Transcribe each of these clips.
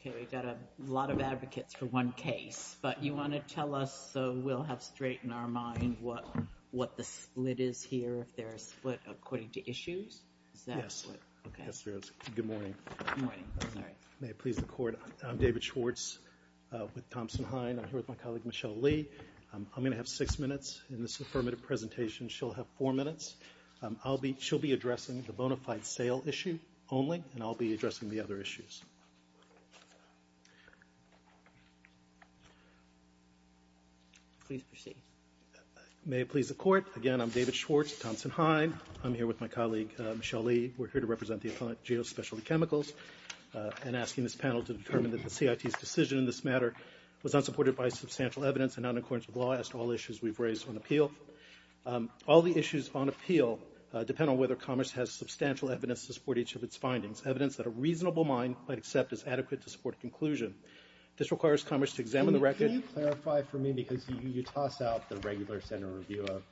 Okay, we've got a lot of advocates for one case, but you want to tell us, so we'll have straight in our mind what the split is here, if there's a split according to issues? Is that what, okay. Yes, there is. Good morning. Good morning, sorry. May it please the Court. I'm David Schwartz with Thompson Hine. I'm here with my colleague, Michelle Lee. I'm gonna have six minutes in this affirmative presentation. She'll have four minutes. I'll be, she'll be addressing the bona fide sale issue only, and I'll be addressing the other issues. Please proceed. May it please the Court. Again, I'm David Schwartz, Thompson Hine. I'm here with my colleague, Michelle Lee. We're here to represent the Appellant Geospecialty Chemicals, and asking this panel to determine that the CIT's decision in this matter was not supported by substantial evidence and not in accordance with law, as to all issues we've raised on appeal. All the issues on appeal depend on whether Commerce has substantial evidence to support each of its findings. Evidence that a reasonable mind might accept is adequate to support a conclusion. This requires Commerce to examine the record. Can you clarify for me, because you toss out the regular standard review of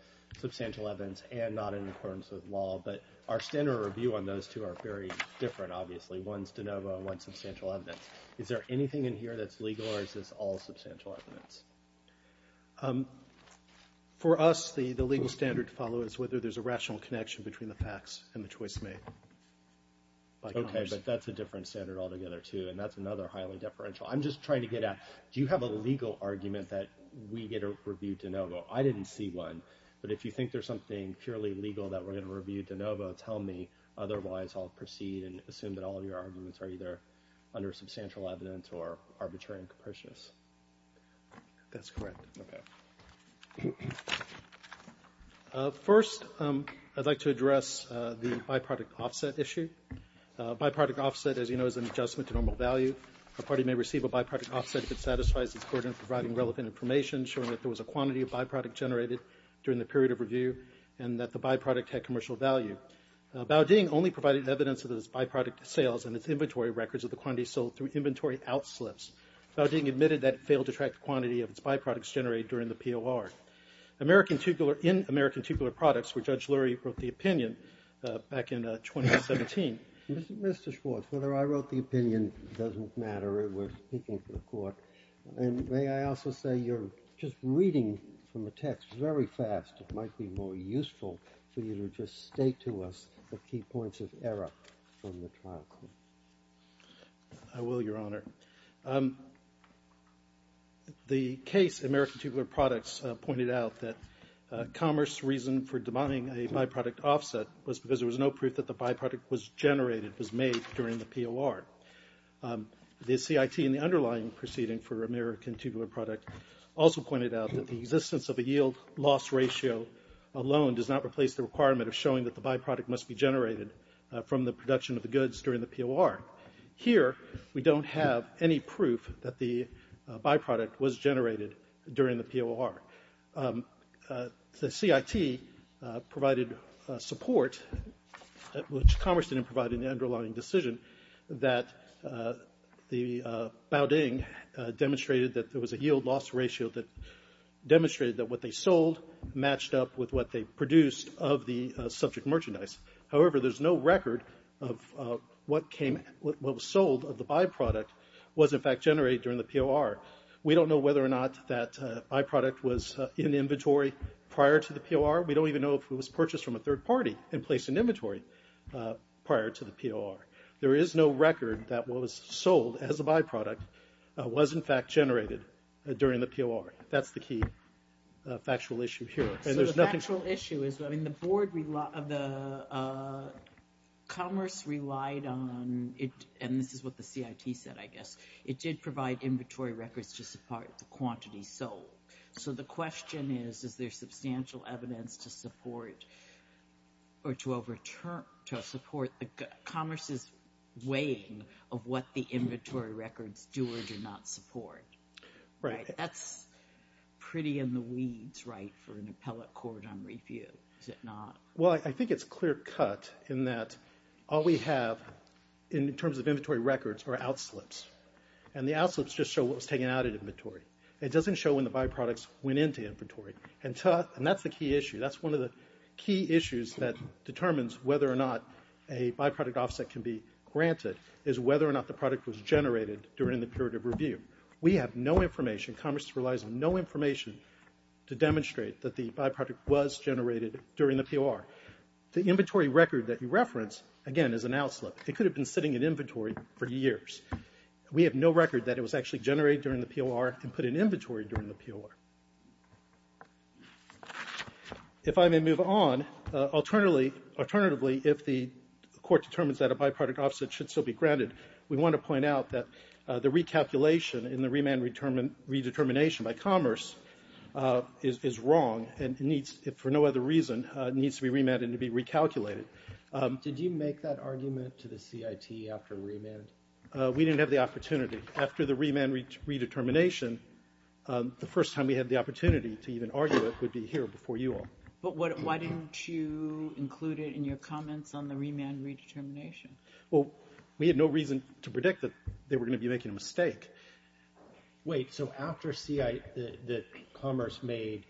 substantial evidence and not in accordance with law, but our standard review on those two are very different, obviously. One's de novo, one's substantial evidence. Is there anything in here that's legal, or is this all substantial evidence? For us, the legal standard to follow is whether there's a rational connection between the facts and the choice made. Okay, but that's a different standard altogether, too, and that's another highly deferential. I'm just trying to get at, do you have a legal argument that we get a review de novo? I didn't see one, but if you think there's something purely legal that we're gonna review de novo, tell me, otherwise I'll proceed and assume that all of your arguments are either under substantial evidence or arbitrary and capricious. That's correct. Okay. First, I'd like to address the byproduct offset issue. Byproduct offset, as you know, is an adjustment to normal value. A party may receive a byproduct offset if it satisfies its burden of providing relevant information, showing that there was a quantity of byproduct generated during the period of review, and that the byproduct had commercial value. Bao Ding only provided evidence of its byproduct sales and its inventory records of the quantities sold through inventory outslips. Bao Ding admitted that it failed to track the quantity of its byproducts generated during the POR. American Tugular, in American Tugular Products, where Judge Lurie wrote the opinion back in 2017. Mr. Schwartz, whether I wrote the opinion doesn't matter. We're speaking to the court, and may I also say you're just reading from the text very fast. It might be more useful for you to just state to us the key points of error from the trial court. I will, Your Honor. The case in American Tugular Products pointed out that commerce reason for denying a byproduct offset was because there was no proof that the byproduct was generated, was made during the POR. The CIT in the underlying proceeding for American Tugular Product also pointed out that the existence of a yield loss ratio alone does not replace the requirement of showing that the byproduct must be generated from the production of the goods during the POR. Here, we don't have any proof that the byproduct was generated during the POR. The CIT provided support, which commerce didn't provide in the underlying decision, that the Baudin demonstrated that there was a yield loss ratio that demonstrated that what they sold matched up with what they produced of the subject merchandise. However, there's no record of what was sold of the byproduct was, in fact, generated during the POR. We don't know whether or not that byproduct was in inventory prior to the POR. We don't even know if it was purchased from a third party and placed in inventory prior to the POR. There is no record that what was sold as a byproduct was, in fact, generated during the POR. That's the key factual issue here. And there's nothing. So the factual issue is, I mean, the board, the commerce relied on, and this is what the CIT said, I guess, it did provide inventory records to support the quantity sold. So the question is, is there substantial evidence to support or to overturn, to support the commerce's weighing of what the inventory records do or do not support? Right, that's pretty in the weeds, right, for an appellate court on review, is it not? Well, I think it's clear cut in that all we have in terms of inventory records are outslips. And the outslips just show what was taken out of inventory. It doesn't show when the byproducts went into inventory. And that's the key issue. That's one of the key issues that determines whether or not a byproduct offset can be granted is whether or not the product was generated during the period of review. We have no information, commerce relies on no information to demonstrate that the byproduct was generated during the POR. The inventory record that you reference, again, is an outslip. It could have been sitting in inventory for years. We have no record that it was actually generated during the POR and put in inventory during the POR. If I may move on, alternatively, if the court determines that a byproduct offset should still be granted, we want to point out that the recalculation in the remand redetermination by commerce is wrong and for no other reason needs to be remanded and to be recalculated. Did you make that argument to the CIT after remand? We didn't have the opportunity. After the remand redetermination, the first time we had the opportunity to even argue it would be here before you all. But why didn't you include it in your comments on the remand redetermination? Well, we had no reason to predict that they were gonna be making a mistake. Wait, so after commerce made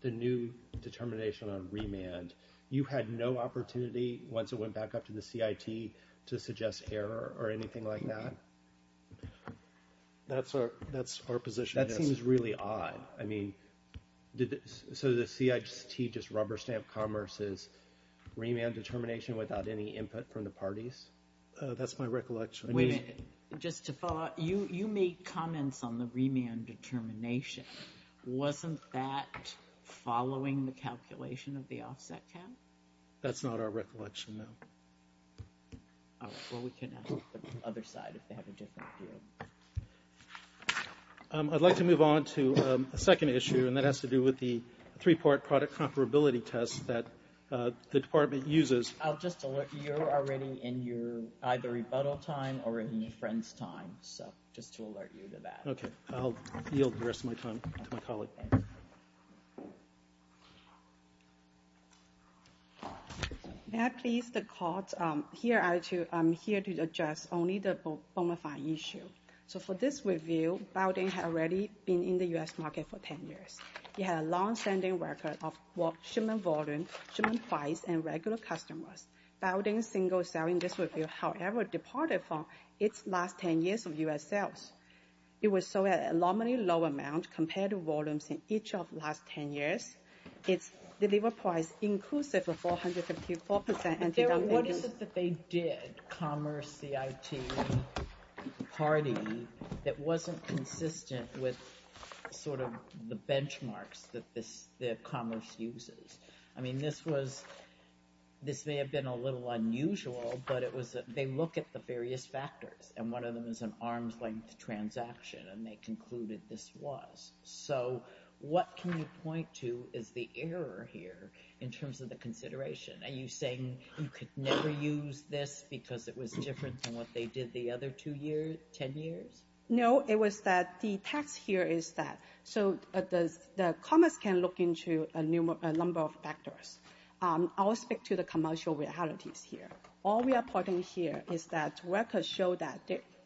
the new determination on remand, you had no opportunity, once it went back up to the CIT, to suggest error or anything like that? That's our position. That seems really odd. I mean, so the CIT just rubber-stamped commerce as remand determination without any input from the parties? That's my recollection. Wait a minute. Just to follow up, you made comments on the remand determination. Wasn't that following the calculation of the offset cap? That's not our recollection, no. All right, well, we can ask the other side if they have a different view. I'd like to move on to a second issue, and that has to do with the three-part product comparability test that the department uses. I'll just alert you. You're already in your either rebuttal time or in the friends time, so just to alert you to that. Okay, I'll yield the rest of my time to my colleague. May I please, the court, here I'm here to address only the bonafide issue. So for this review, Bowdoin had already been in the U.S. market for 10 years. It had a long-standing record of shipment volume, shipment price, and regular customers. Bowdoin single-selling this review, however, departed from its last 10 years of U.S. sales. It was sold at an alarmingly low amount compared to volumes in each of the last 10 years. Its delivery price inclusive of 454% anti-dominant. What is it that they did, Commerce CIT party, that wasn't consistent with sort of the benchmarks that Commerce uses? I mean, this was, this may have been a little unusual, but it was, they look at the various factors, and one of them is an arm's-length transaction, and they concluded this was. So what can you point to is the error here in terms of the consideration? Are you saying you could never use this because it was different than what they did the other two years, 10 years? No, it was that the text here is that, so the Commerce can look into a number of factors. I'll speak to the commercial realities here. All we are pointing here is that records show that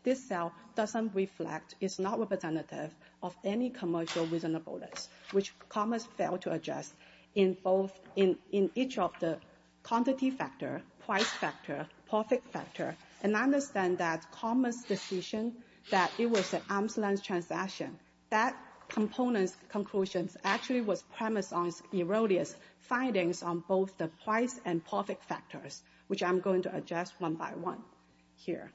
this cell doesn't reflect, is not representative of any commercial reasonableness, which Commerce failed to address in both in each of the quantity factor, price factor, profit factor, and I understand that Commerce decision that it was an arm's-length transaction, that component's conclusions actually was premised on its erroneous findings on both the price and profit factors, which I'm going to address one by one here.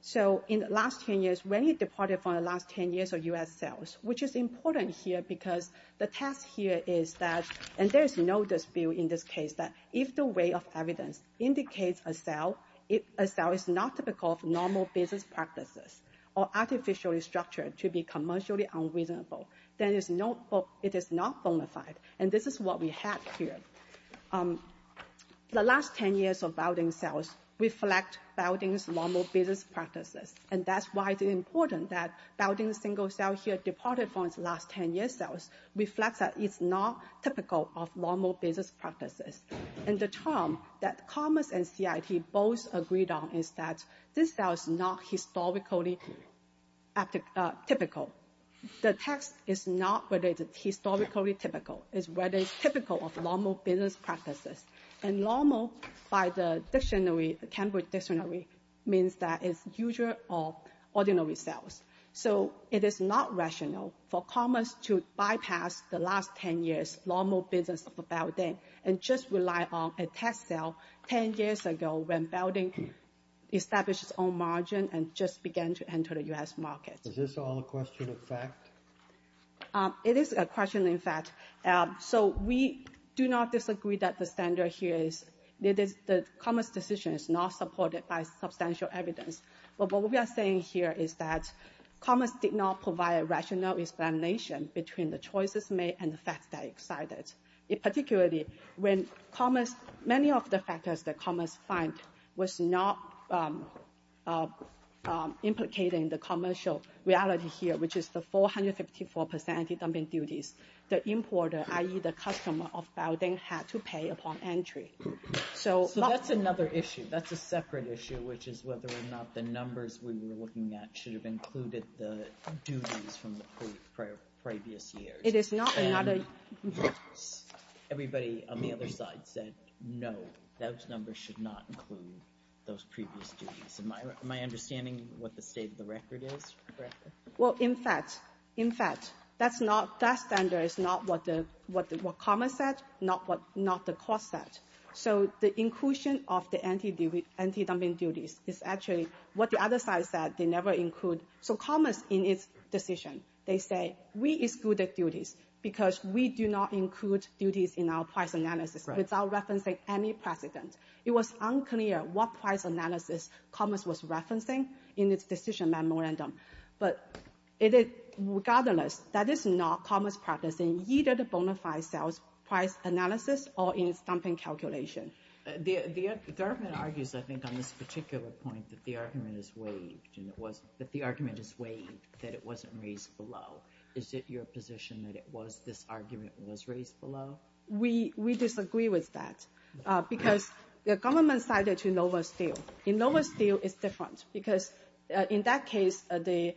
So in the last 10 years, when it departed from the last 10 years of U.S. sales, which is important here because the test here is that, and there is no dispute in this case, that if the way of evidence indicates a cell, if a cell is not typical of normal business practices or artificially structured to be commercially unreasonable, then it is not bona fide, and this is what we have here. The last 10 years of balding sales reflect balding's normal business practices, and that's why it's important that balding's single cell here departed from its last 10 years sales reflects that it's not typical of normal business practices, and the term that Commerce and CIT both agreed on is that this cell is not historically typical. The text is not whether it's historically typical. It's whether it's typical of normal business practices, and normal by the dictionary, the Cambridge dictionary, means that it's usual or ordinary sales. So it is not rational for Commerce to bypass the last 10 years normal business of balding and just rely on a test cell 10 years ago when balding established its own margin and just began to enter the U.S. market. Is this all a question of fact? It is a question of fact. So we do not disagree that the standard here is, that the Commerce decision is not supported by substantial evidence, but what we are saying here is that Commerce did not provide a rational explanation between the choices made and the facts that excited. In particularly, when Commerce, many of the factors that Commerce find was not implicating the commercial reality here, which is the 454% anti-dumping duties. The importer, i.e. the customer of balding, had to pay upon entry. So that's another issue. That's a separate issue, which is whether or not the numbers we were looking at should have included the duties from the previous years. It is not another. Everybody on the other side said no, those numbers should not include those previous duties. Am I understanding what the state of the record is? Well, in fact, that standard is not what Commerce said, not what the court said. So the inclusion of the anti-dumping duties is actually what the other side said, they never include. So Commerce in its decision, they say we excluded duties because we do not include duties in our price analysis without referencing any precedent. It was unclear what price analysis Commerce was referencing in its decision memorandum. But regardless, that is not Commerce practicing either the bona fide sales price analysis or in its dumping calculation. The government argues, I think, on this particular point, that the argument is waived and it wasn't, that the argument is waived, that it wasn't raised below. Is it your position that it was, this argument was raised below? We disagree with that because the government cited to Nova Steel. In Nova Steel, it's different because in that case, the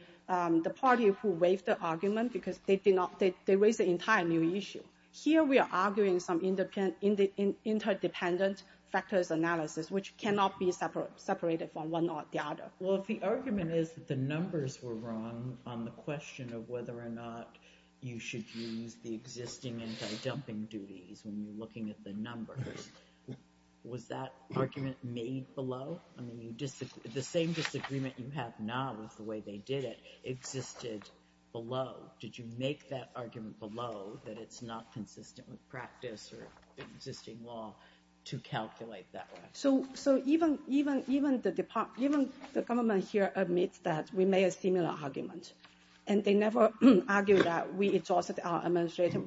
party who waived the argument because they did not, they raised an entire new issue. Here we are arguing some interdependent factors analysis which cannot be separated from one or the other. Well, if the argument is that the numbers were wrong on the question of whether or not you should use the existing anti-dumping duties when you're looking at the numbers, was that argument made below? I mean, the same disagreement you have now with the way they did it existed below. Did you make that argument below that it's not consistent with practice or existing law to calculate that way? So even the government here admits that we made a similar argument. And they never argue that we exhausted our administrative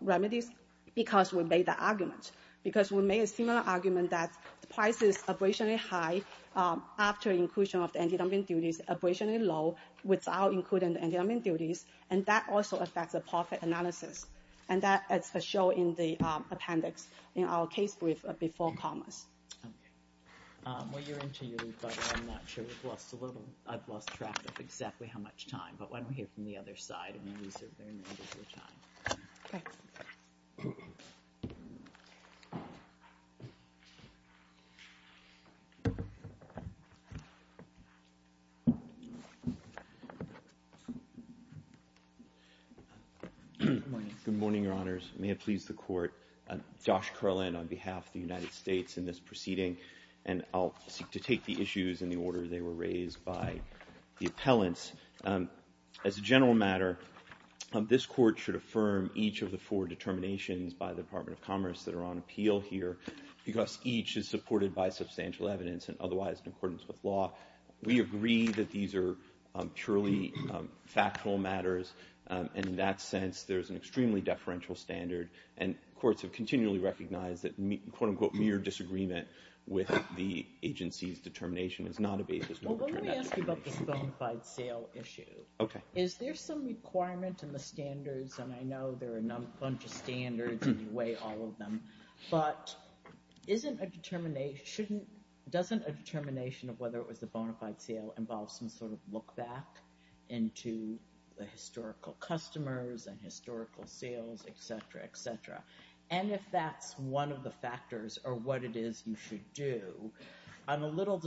remedies because we made the argument. Because we made a similar argument that the price is abrasionally high after inclusion of the anti-dumping duties, abrasionally low without including the anti-dumping duties. And that also affects the profit analysis. And that is a show in the appendix in our case brief before commerce. While you're into your rebuttal, I'm not sure we've lost a little. I've lost track of exactly how much time. But why don't we hear from the other side and use their remittance of time. Okay. Thank you. Good morning, your honors. May it please the court. Josh Carlin on behalf of the United States in this proceeding. And I'll seek to take the issues in the order they were raised by the appellants. As a general matter, this court should affirm each of the four determinations by the Department of Commerce that are on appeal here because each is supported by substantial evidence and otherwise in accordance with law. We agree that these are purely factual matters. And in that sense, there's an extremely deferential standard. And courts have continually recognized that quote unquote mere disagreement with the agency's determination is not a basis for return. Well, let me ask you about this bonafide sale issue. Is there some requirement in the standards? And I know there are a bunch of standards and you weigh all of them. But isn't a determination, doesn't a determination of whether it was a bonafide sale involve some sort of look back into the historical customers and historical sales, et cetera, et cetera? And if that's one of the factors or what it is you should do, I'm a little,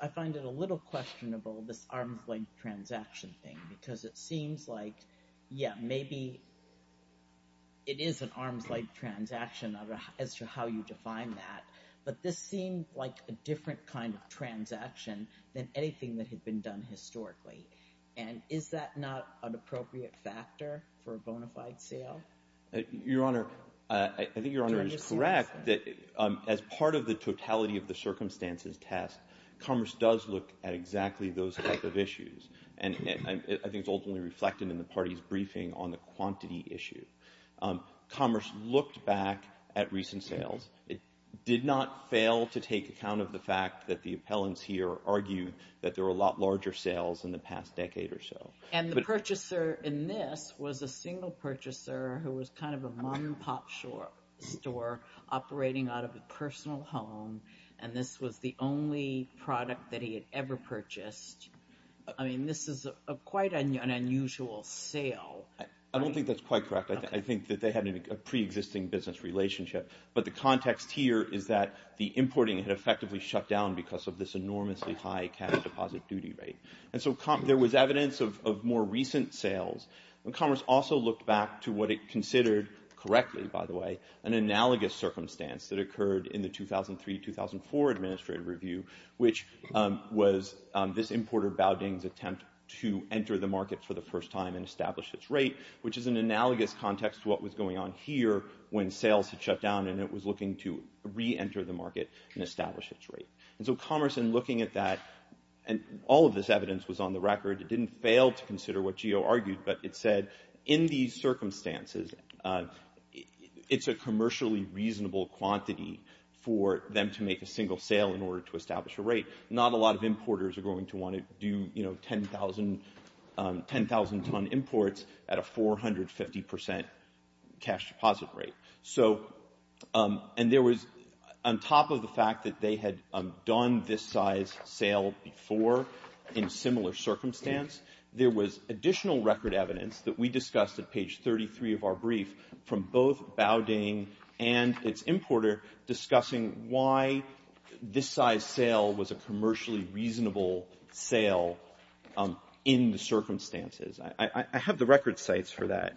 I find it a little questionable this arm's length transaction thing because it seems like, yeah, maybe it is an arm's length transaction as to how you define that. But this seemed like a different kind of transaction than anything that had been done historically. And is that not an appropriate factor for a bonafide sale? Your Honor, I think Your Honor is correct that as part of the totality of the circumstances test, Commerce does look at exactly those type of issues. And I think it's ultimately reflected in the party's briefing on the quantity issue. Commerce looked back at recent sales. It did not fail to take account of the fact that the appellants here argued that there were a lot larger sales in the past decade or so. And the purchaser in this was a single purchaser who was kind of a mom and pop store operating out of a personal home. And this was the only product that he had ever purchased. I mean, this is quite an unusual sale. I don't think that's quite correct. I think that they had a pre-existing business relationship. But the context here is that the importing had effectively shut down because of this enormously high cash deposit duty rate. And so there was evidence of more recent sales. And Commerce also looked back to what it considered correctly, by the way, an analogous circumstance that occurred in the 2003-2004 Administrative Review, which was this importer Baudin's attempt to enter the market for the first time and establish its rate, which is an analogous context to what was going on here when sales had shut down and it was looking to re-enter the market and establish its rate. And so Commerce, in looking at that, and all of this evidence was on the record, it didn't fail to consider what Gio argued, but it said, in these circumstances, it's a commercially reasonable quantity for them to make a single sale in order to establish a rate. Not a lot of importers are going to want to do 10,000-ton imports at a 450% cash deposit rate. And there was, on top of the fact that they had done this size sale before in similar circumstance, there was additional record evidence that we discussed at page 33 of our brief from both Baudin and its importer discussing why this size sale was a commercially reasonable sale in the circumstances. I have the record sites for that.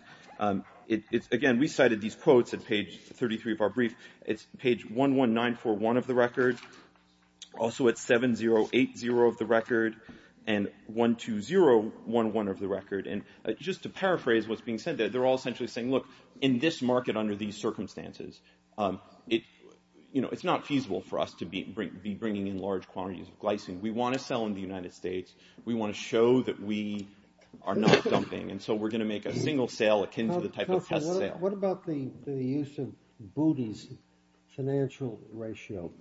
Again, we cited these quotes at page 33 of our brief. It's page 11941 of the record, also at 7080 of the record, and 12011 of the record. And just to paraphrase what's being said there, they're all essentially saying, look, in this market under these circumstances, it's not feasible for us to be bringing in large quantities of glycine. We want to sell in the United States. We want to show that we are not dumping, and so we're going to make a single sale akin to the type of test sale. What about the use of booty's financial ratio?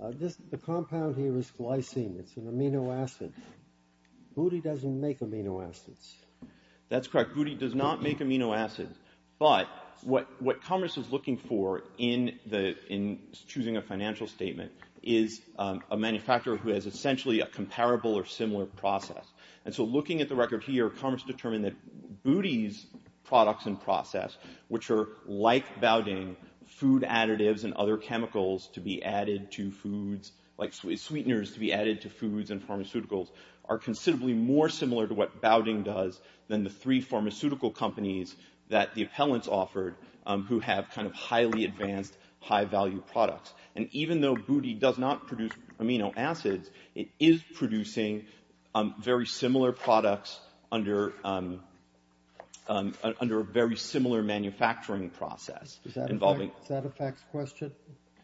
The compound here is glycine. It's an amino acid. Booty doesn't make amino acids. That's correct. Booty does not make amino acids. But what Commerce is looking for in choosing a financial statement is a manufacturer who has essentially a comparable or similar process. And so looking at the record here, Commerce determined that booty's products and process, which are like Baudin, food additives and other chemicals to be added to foods, like sweeteners to be added to foods and pharmaceuticals, are considerably more similar to what Baudin does than the three pharmaceutical companies that the appellants offered who have kind of highly advanced, high-value products. And even though booty does not produce amino acids, it is producing very similar products under a very similar manufacturing process. Is that a facts question?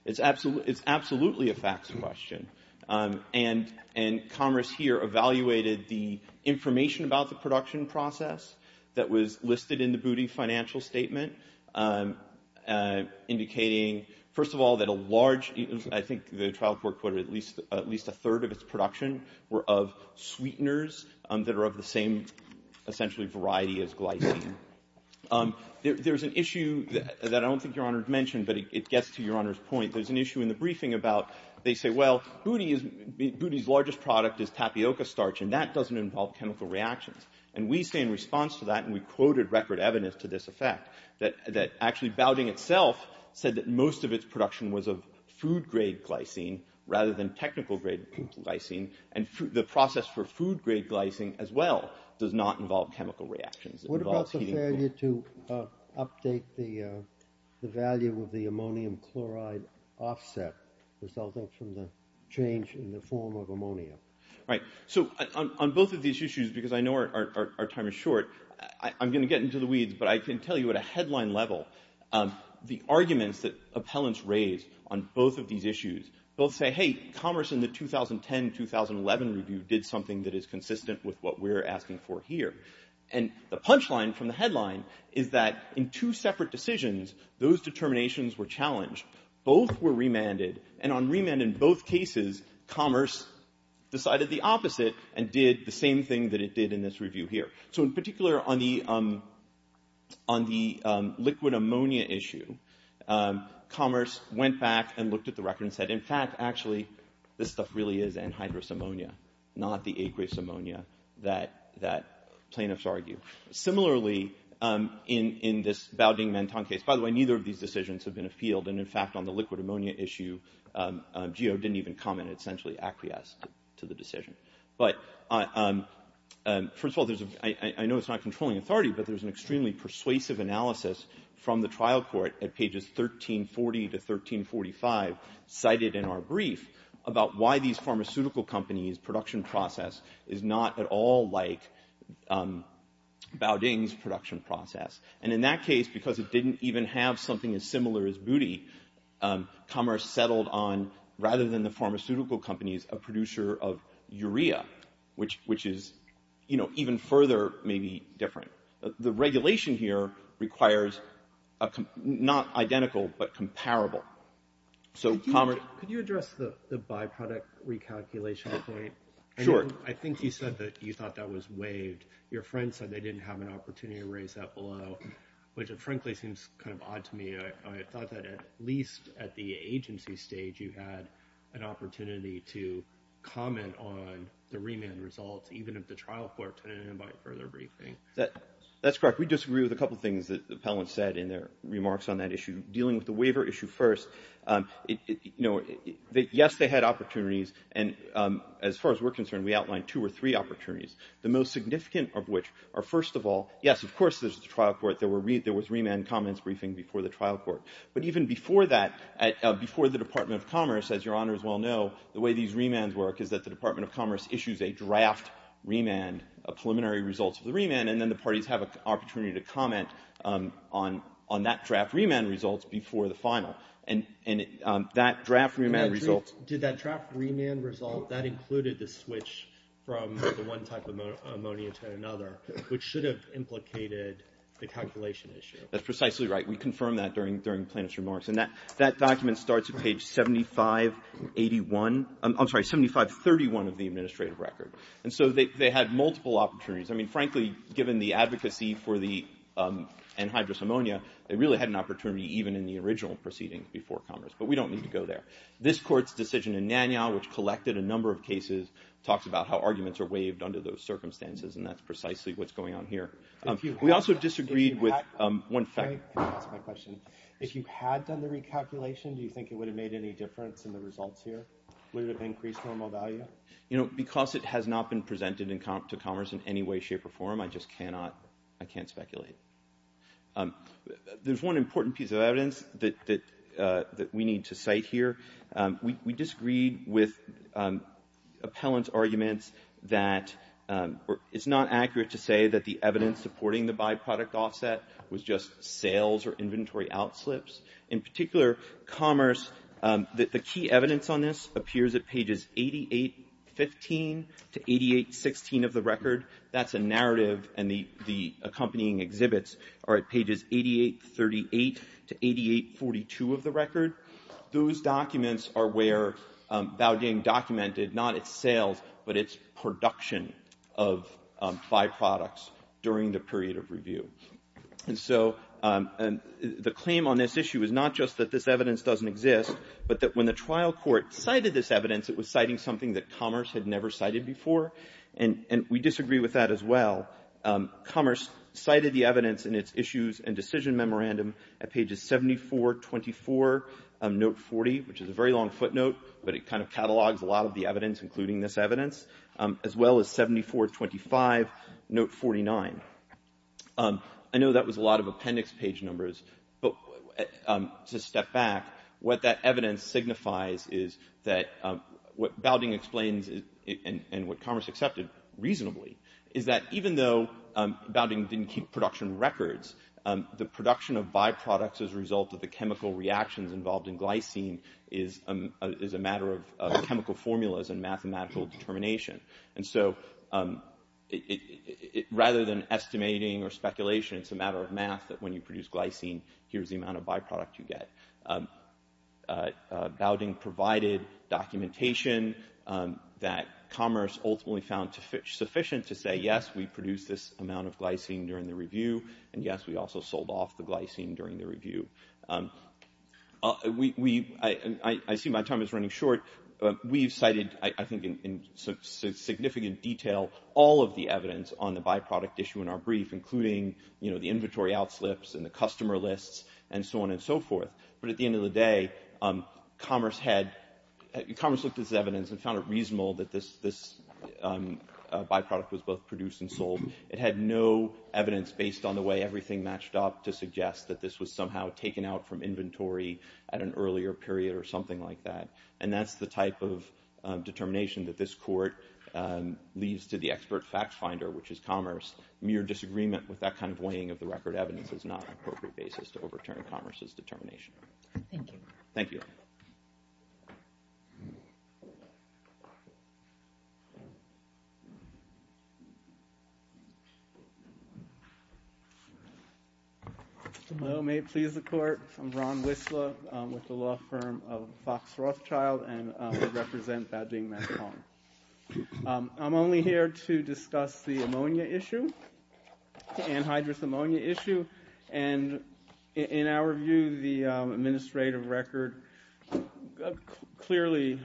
It's absolutely a facts question. And Commerce here evaluated the information about the production process that was listed in the booty financial statement, indicating, first of all, that a large, I think the trial court quoted at least a third of its production were of sweeteners that are of the same, essentially, variety as glycine. There's an issue that I don't think Your Honor mentioned, but it gets to Your Honor's point. There's an issue in the briefing about, they say, well, booty's largest product is tapioca starch, and that doesn't involve chemical reactions. And we say in response to that, and we quoted record evidence to this effect, that actually Baudin itself said that most of its production was of food-grade glycine rather than technical-grade glycine, and the process for food-grade glycine as well does not involve chemical reactions. It involves heating. What about the failure to update the value of the ammonium chloride offset resulting from the change in the form of ammonia? Right, so on both of these issues, because I know our time is short, I'm gonna get into the weeds, but I can tell you at a headline level, the arguments that appellants raise on both of these issues, both say, hey, Commerce in the 2010-2011 review did something that is consistent with what we're asking for here. And the punchline from the headline is that in two separate decisions, those determinations were challenged. Both were remanded, and on remand in both cases, Commerce decided the opposite and did the same thing that it did in this review here. So in particular, on the liquid ammonia issue, Commerce went back and looked at the record and said, in fact, actually, this stuff really is anhydrous ammonia, not the aqueous ammonia that plaintiffs argue. Similarly, in this Baoding-Menton case, by the way, neither of these decisions have been appealed, and in fact, on the liquid ammonia issue, GEO didn't even comment, and essentially acquiesced to the decision. But first of all, I know it's not controlling authority, but there's an extremely persuasive analysis from the trial court at pages 1340 to 1345 cited in our brief about why these pharmaceutical companies' production process is not at all like Baoding's production process. And in that case, because it didn't even have something as similar as booty, Commerce settled on, rather than the pharmaceutical companies, a producer of urea, which is even further, maybe different. The regulation here requires not identical, but comparable. So Commerce- Could you address the byproduct recalculation point? Sure. I think you said that you thought that was waived. Your friend said they didn't have an opportunity to raise that below, which frankly seems kind of odd to me. I thought that at least at the agency stage, you had an opportunity to comment on the remand results, even if the trial court didn't invite further briefing. That's correct. We disagree with a couple of things that the appellant said in their remarks on that issue. Dealing with the waiver issue first, yes, they had opportunities. And as far as we're concerned, we outlined two or three opportunities, the most significant of which are, first of all, yes, of course, there's the trial court. There was remand comments briefing before the trial court. But even before that, before the Department of Commerce, as your honors well know, the way these remands work is that the Department of Commerce issues a draft remand, a preliminary result of the remand, and then the parties have an opportunity to comment on that draft remand results before the final. And that draft remand result- Did that draft remand result, that included the switch from the one type of ammonia to another, which should have implicated the calculation issue? That's precisely right. We confirmed that during plaintiff's remarks. And that document starts at page 7581, I'm sorry, 7531 of the administrative record. And so they had multiple opportunities. I mean, frankly, given the advocacy for the anhydrous ammonia, they really had an opportunity even in the original proceedings before Congress. But we don't need to go there. This court's decision in Nanyang, which collected a number of cases, talks about how arguments are waived under those circumstances, and that's precisely what's going on here. We also disagreed with one fact- Can I ask my question? If you had done the recalculation, do you think it would have made any difference in the results here? Would it have increased normal value? Because it has not been presented to Congress in any way, shape, or form, I just cannot, I can't speculate. There's one important piece of evidence that we need to cite here. We disagreed with appellant's arguments that it's not accurate to say that the evidence supporting the byproduct offset was just sales or inventory outslips. In particular, commerce, the key evidence on this appears at pages 88.15 to 88.16 of the record. That's a narrative, and the accompanying exhibits are at pages 88.38 to 88.42 of the record. Those documents are where Baojing documented, not its sales, but its production of byproducts during the period of review. And so, the claim on this issue is not just that this evidence doesn't exist, but that when the trial court cited this evidence, it was citing something that commerce had never cited before, and we disagree with that as well. Commerce cited the evidence in its issues and decision memorandum at pages 74.24 of note 40, which is a very long footnote, but it kind of catalogs a lot of the evidence, including this evidence, as well as 74.25, note 49. I know that was a lot of appendix page numbers, but to step back, what that evidence signifies is that what Baojing explains, and what commerce accepted reasonably, is that even though Baojing didn't keep production records, the production of byproducts as a result of the chemical reactions involved in glycine is a matter of chemical formulas and mathematical determination. And so, rather than estimating or speculation, it's a matter of math that when you produce glycine, here's the amount of byproduct you get. Baojing provided documentation that commerce ultimately found sufficient to say, yes, we produced this amount of glycine during the review, and yes, we also sold off the glycine during the review. I see my time is running short. We've cited, I think, in significant detail all of the evidence on the byproduct issue in our brief, including the inventory outslips and the customer lists, and so on and so forth. But at the end of the day, commerce looked at this evidence and found it reasonable that this byproduct was both produced and sold. to suggest that this was somehow to be true. It was taken out from inventory at an earlier period or something like that. And that's the type of determination that this court leaves to the expert fact finder, which is commerce. Mere disagreement with that kind of weighing of the record evidence is not an appropriate basis to overturn commerce's determination. Thank you. Thank you. Thank you. Hello, may it please the court. I'm Ron Whistler with the law firm of Fox Rothschild, and I represent Ba-Ding Ma-Kong. I'm only here to discuss the ammonia issue, the anhydrous ammonia issue. And in our view, the administrative record clearly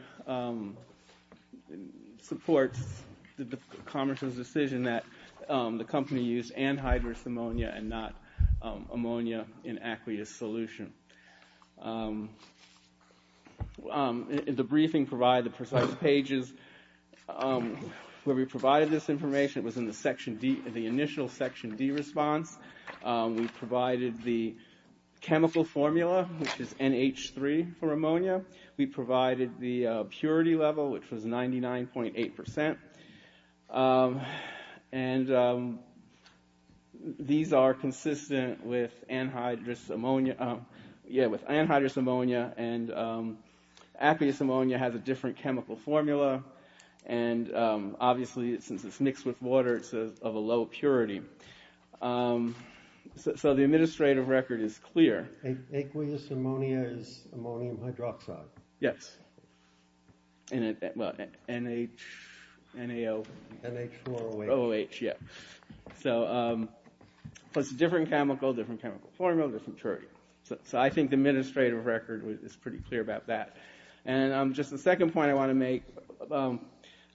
supports the commerce's decision that the company used anhydrous ammonia and not ammonia in aqueous solution. The briefing provided the precise pages where we provided this information. It was in the section D, the initial section D response. We provided the chemical formula, which is NH3 for ammonia. We provided the purity level, which was 99.8%. And these are consistent with anhydrous ammonia. Yeah, with anhydrous ammonia. And aqueous ammonia has a different chemical formula. And obviously, since it's mixed with water, it's of a low purity. So the administrative record is clear. Aqueous ammonia is ammonium hydroxide. Yes. Well, N-H, N-A-O. N-H-O-R-O-H. O-H, yeah. So it's a different chemical, different chemical formula, different purity. So I think the administrative record is pretty clear about that. And just the second point I want to make,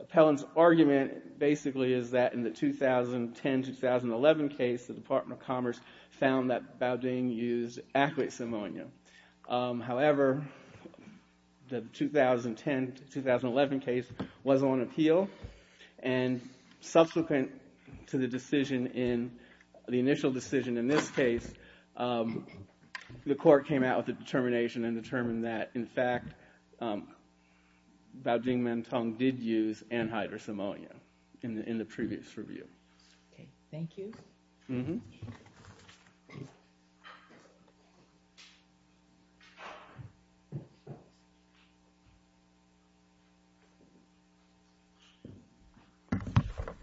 Appellant's argument basically is that in the 2010-2011 case, the Department of Commerce found that Baudin used aqueous ammonia. However, the 2010-2011 case was on appeal. And subsequent to the initial decision in this case, the court came out with a determination and determined that, in fact, Baudin-Menteng did use anhydrous ammonia in the previous review. Okay, thank you. Thank you.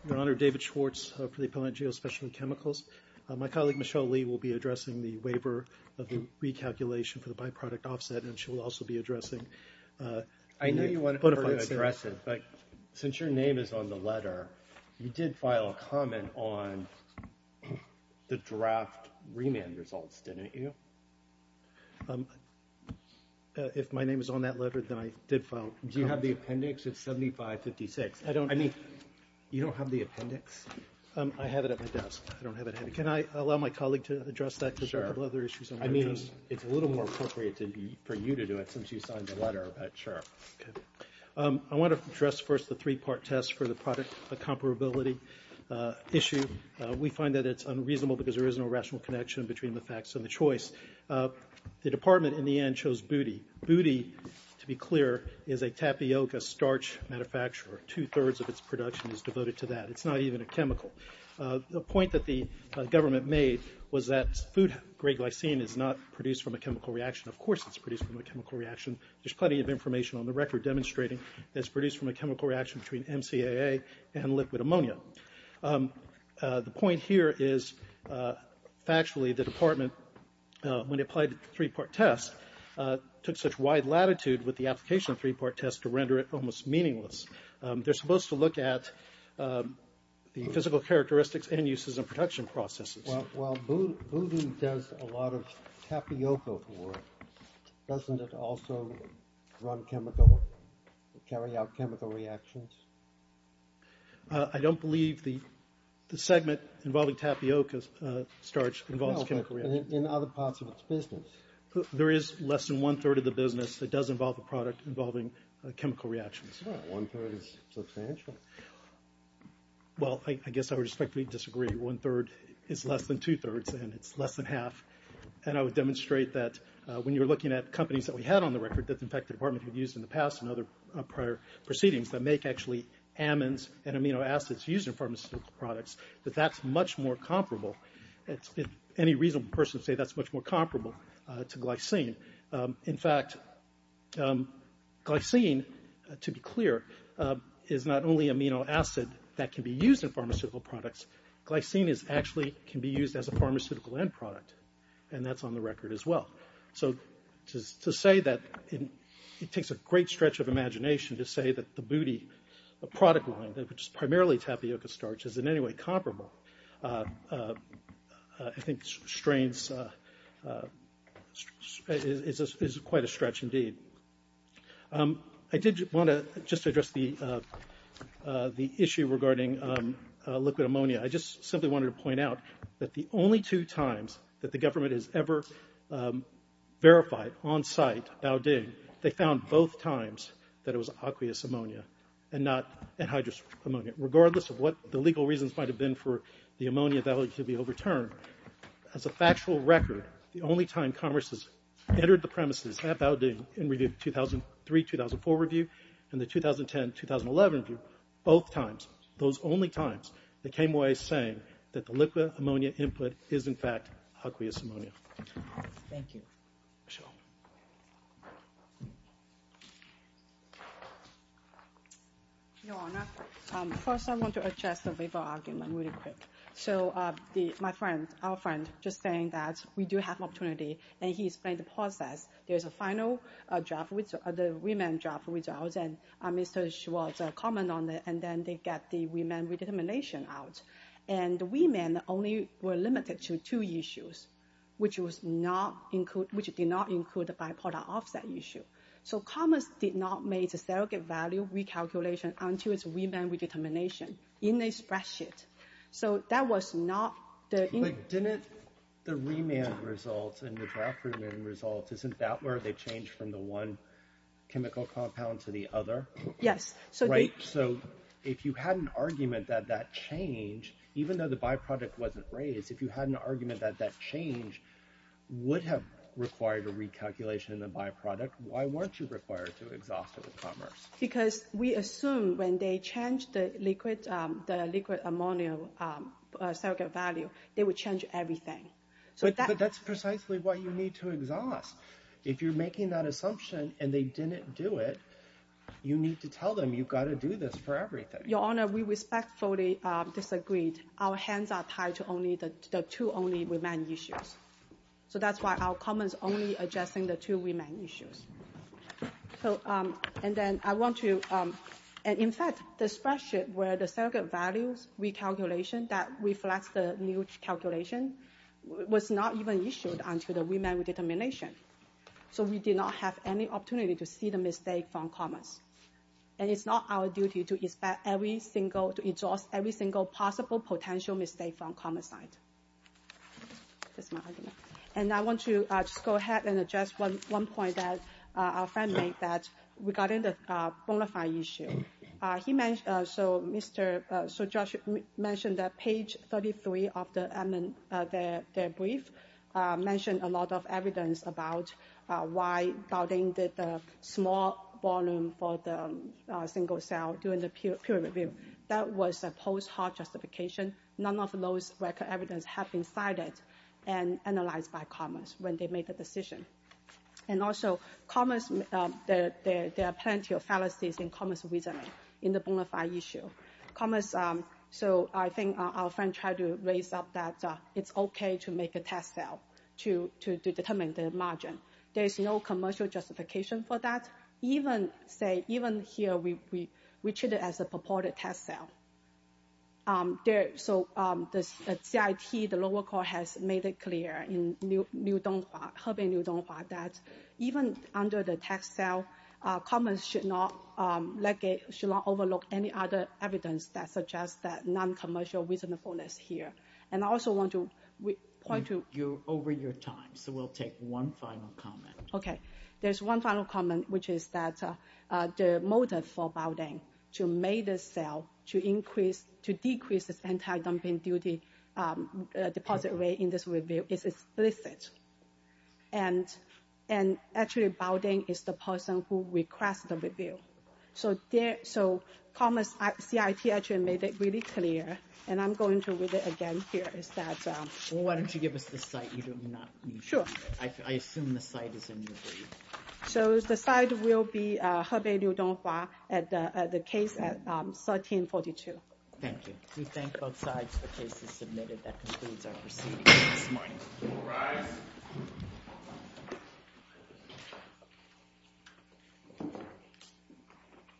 Your Honor, David Schwartz for the Appellant Jail Specialty Chemicals. My colleague, Michelle Lee, will be addressing the waiver of the recalculation for the byproduct offset, and she will also be addressing the bona fide suit. I know you wanted her to address it, but since your name is on the letter, you did file a comment on the draft remand results, didn't you? If my name is on that letter, then I did file a comment. Do you have the appendix? It's 7556. I don't, I mean, you don't have the appendix? I have it at my desk. I don't have it. Can I allow my colleague to address that? Sure. Because there are a couple other issues. I mean, it's a little more appropriate for you to do it since you signed the letter, but sure. Okay. I want to address first the three-part test for the product comparability issue. We find that it's unreasonable because there is no rational connection between the facts and the choice. The department, in the end, chose booty. Booty, to be clear, is a tapioca starch manufacturer. Two-thirds of its production is devoted to that. It's not even a chemical. The point that the government made was that food grade glycine is not produced from a chemical reaction. Of course it's produced from a chemical reaction. There's plenty of information on the record demonstrating that it's produced from a chemical reaction between MCAA and liquid ammonia. The point here is, factually, the department, when they applied the three-part test, took such wide latitude with the application of the three-part test to render it almost meaningless. They're supposed to look at the physical characteristics and uses of production processes. Well, booty does a lot of tapioca work. Doesn't it also run chemical, carry out chemical reactions? I don't believe the segment involving tapioca starch involves chemical reactions. In other parts of its business. There is less than one-third of the business that does involve a product involving chemical reactions. Well, one-third is substantial. Well, I guess I would respectfully disagree. One-third is less than two-thirds, and it's less than half. And I would demonstrate that when you're looking at companies that we had on the record that, in fact, the department had used in the past and other prior proceedings that make, actually, amines and amino acids used in pharmaceutical products, that that's much more comparable. Any reasonable person would say that's much more comparable to glycine. In fact, glycine, to be clear, is not only amino acid that can be used in pharmaceutical products. Glycine actually can be used as a pharmaceutical end product, and that's on the record as well. So to say that it takes a great stretch of imagination to say that the booty, the product line, which is primarily tapioca starch, is in any way comparable, I think strains is quite a stretch indeed. I did want to just address the issue regarding liquid ammonia. I just simply wanted to point out that the only two times that the government has ever verified on site Baoding, they found both times that it was aqueous ammonia and not anhydrous ammonia, regardless of what the legal reasons might have been for the ammonia value to be overturned. As a factual record, the only time Congress has entered the premises at Baoding in review 2003, 2004 review, and the 2010, 2011 review, both times, those only times, they came away saying that the liquid ammonia input is in fact aqueous ammonia. Thank you. Michelle. Your Honor, first I want to address the labor argument really quick. So my friend, our friend, just saying that we do have an opportunity, and he explained the process. There's a final draft, the remand draft results, and Mr. Schwartz commented on it, and then they got the remand redetermination out. And the remand only were limited to two issues, which did not include the bi-product offset issue. So Congress did not make a surrogate value recalculation until its remand redetermination in the spreadsheet. So that was not the... Didn't the remand results and the draft remand results, isn't that where they changed from the one chemical compound to the other? Yes. Right, so if you had an argument that that change, even though the bi-product wasn't raised, if you had an argument that that change would have required a recalculation in the bi-product, why weren't you required to exhaust it with Commerce? Because we assume when they change the liquid ammonia surrogate value, they would change everything. But that's precisely what you need to exhaust. If you're making that assumption and they didn't do it, you need to tell them you've got to do this for everything. Your Honor, we respectfully disagreed. Our hands are tied to only the two only remand issues. So that's why our comment's only addressing the two remand issues. And then I want to, and in fact, the spreadsheet where the surrogate values recalculation that reflects the new calculation was not even issued until the remand redetermination. So we did not have any opportunity to see the mistake from Commerce. And it's not our duty to expect every single, to exhaust every single possible potential mistake from Commerce side. That's my argument. And I want to just go ahead and address one point that our friend made that regarding the bonafide issue. He mentioned, so Mr., so Josh mentioned that page 33 of the brief mentioned a lot of evidence about why doubting the small volume for the single cell during the peer review. That was a post hoc justification. None of those record evidence have been cited and analyzed by Commerce when they made the decision. And also Commerce, there are plenty of fallacies in Commerce reasoning in the bonafide issue. Commerce, so I think our friend tried to raise up that it's okay to make a test cell to determine the margin. There's no commercial justification for that. Even say, even here, we treat it as a purported test cell. So the CIT, the lower court has made it clear in Hebei Niu Donghua that even under the test cell, Commerce should not overlook any other evidence that suggests that non-commercial reasonableness here. And I also want to point to. Over your time, so we'll take one final comment. Okay, there's one final comment, which is that the motive for Baodeng to make the cell to increase, to decrease its anti-dumping duty deposit rate in this review is explicit. And actually Baodeng is the person who request the review. So Commerce, CIT actually made it really clear, and I'm going to read it again here, is that. Well, why don't you give us the CIT, you do not need to read it. I assume the CIT is in your brief. So the CIT will be Hebei Niu Donghua at the case at 1342. Thank you. We thank both sides for cases submitted. That concludes our proceedings this morning. All rise. The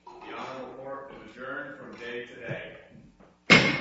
honorable court is adjourned from today to today.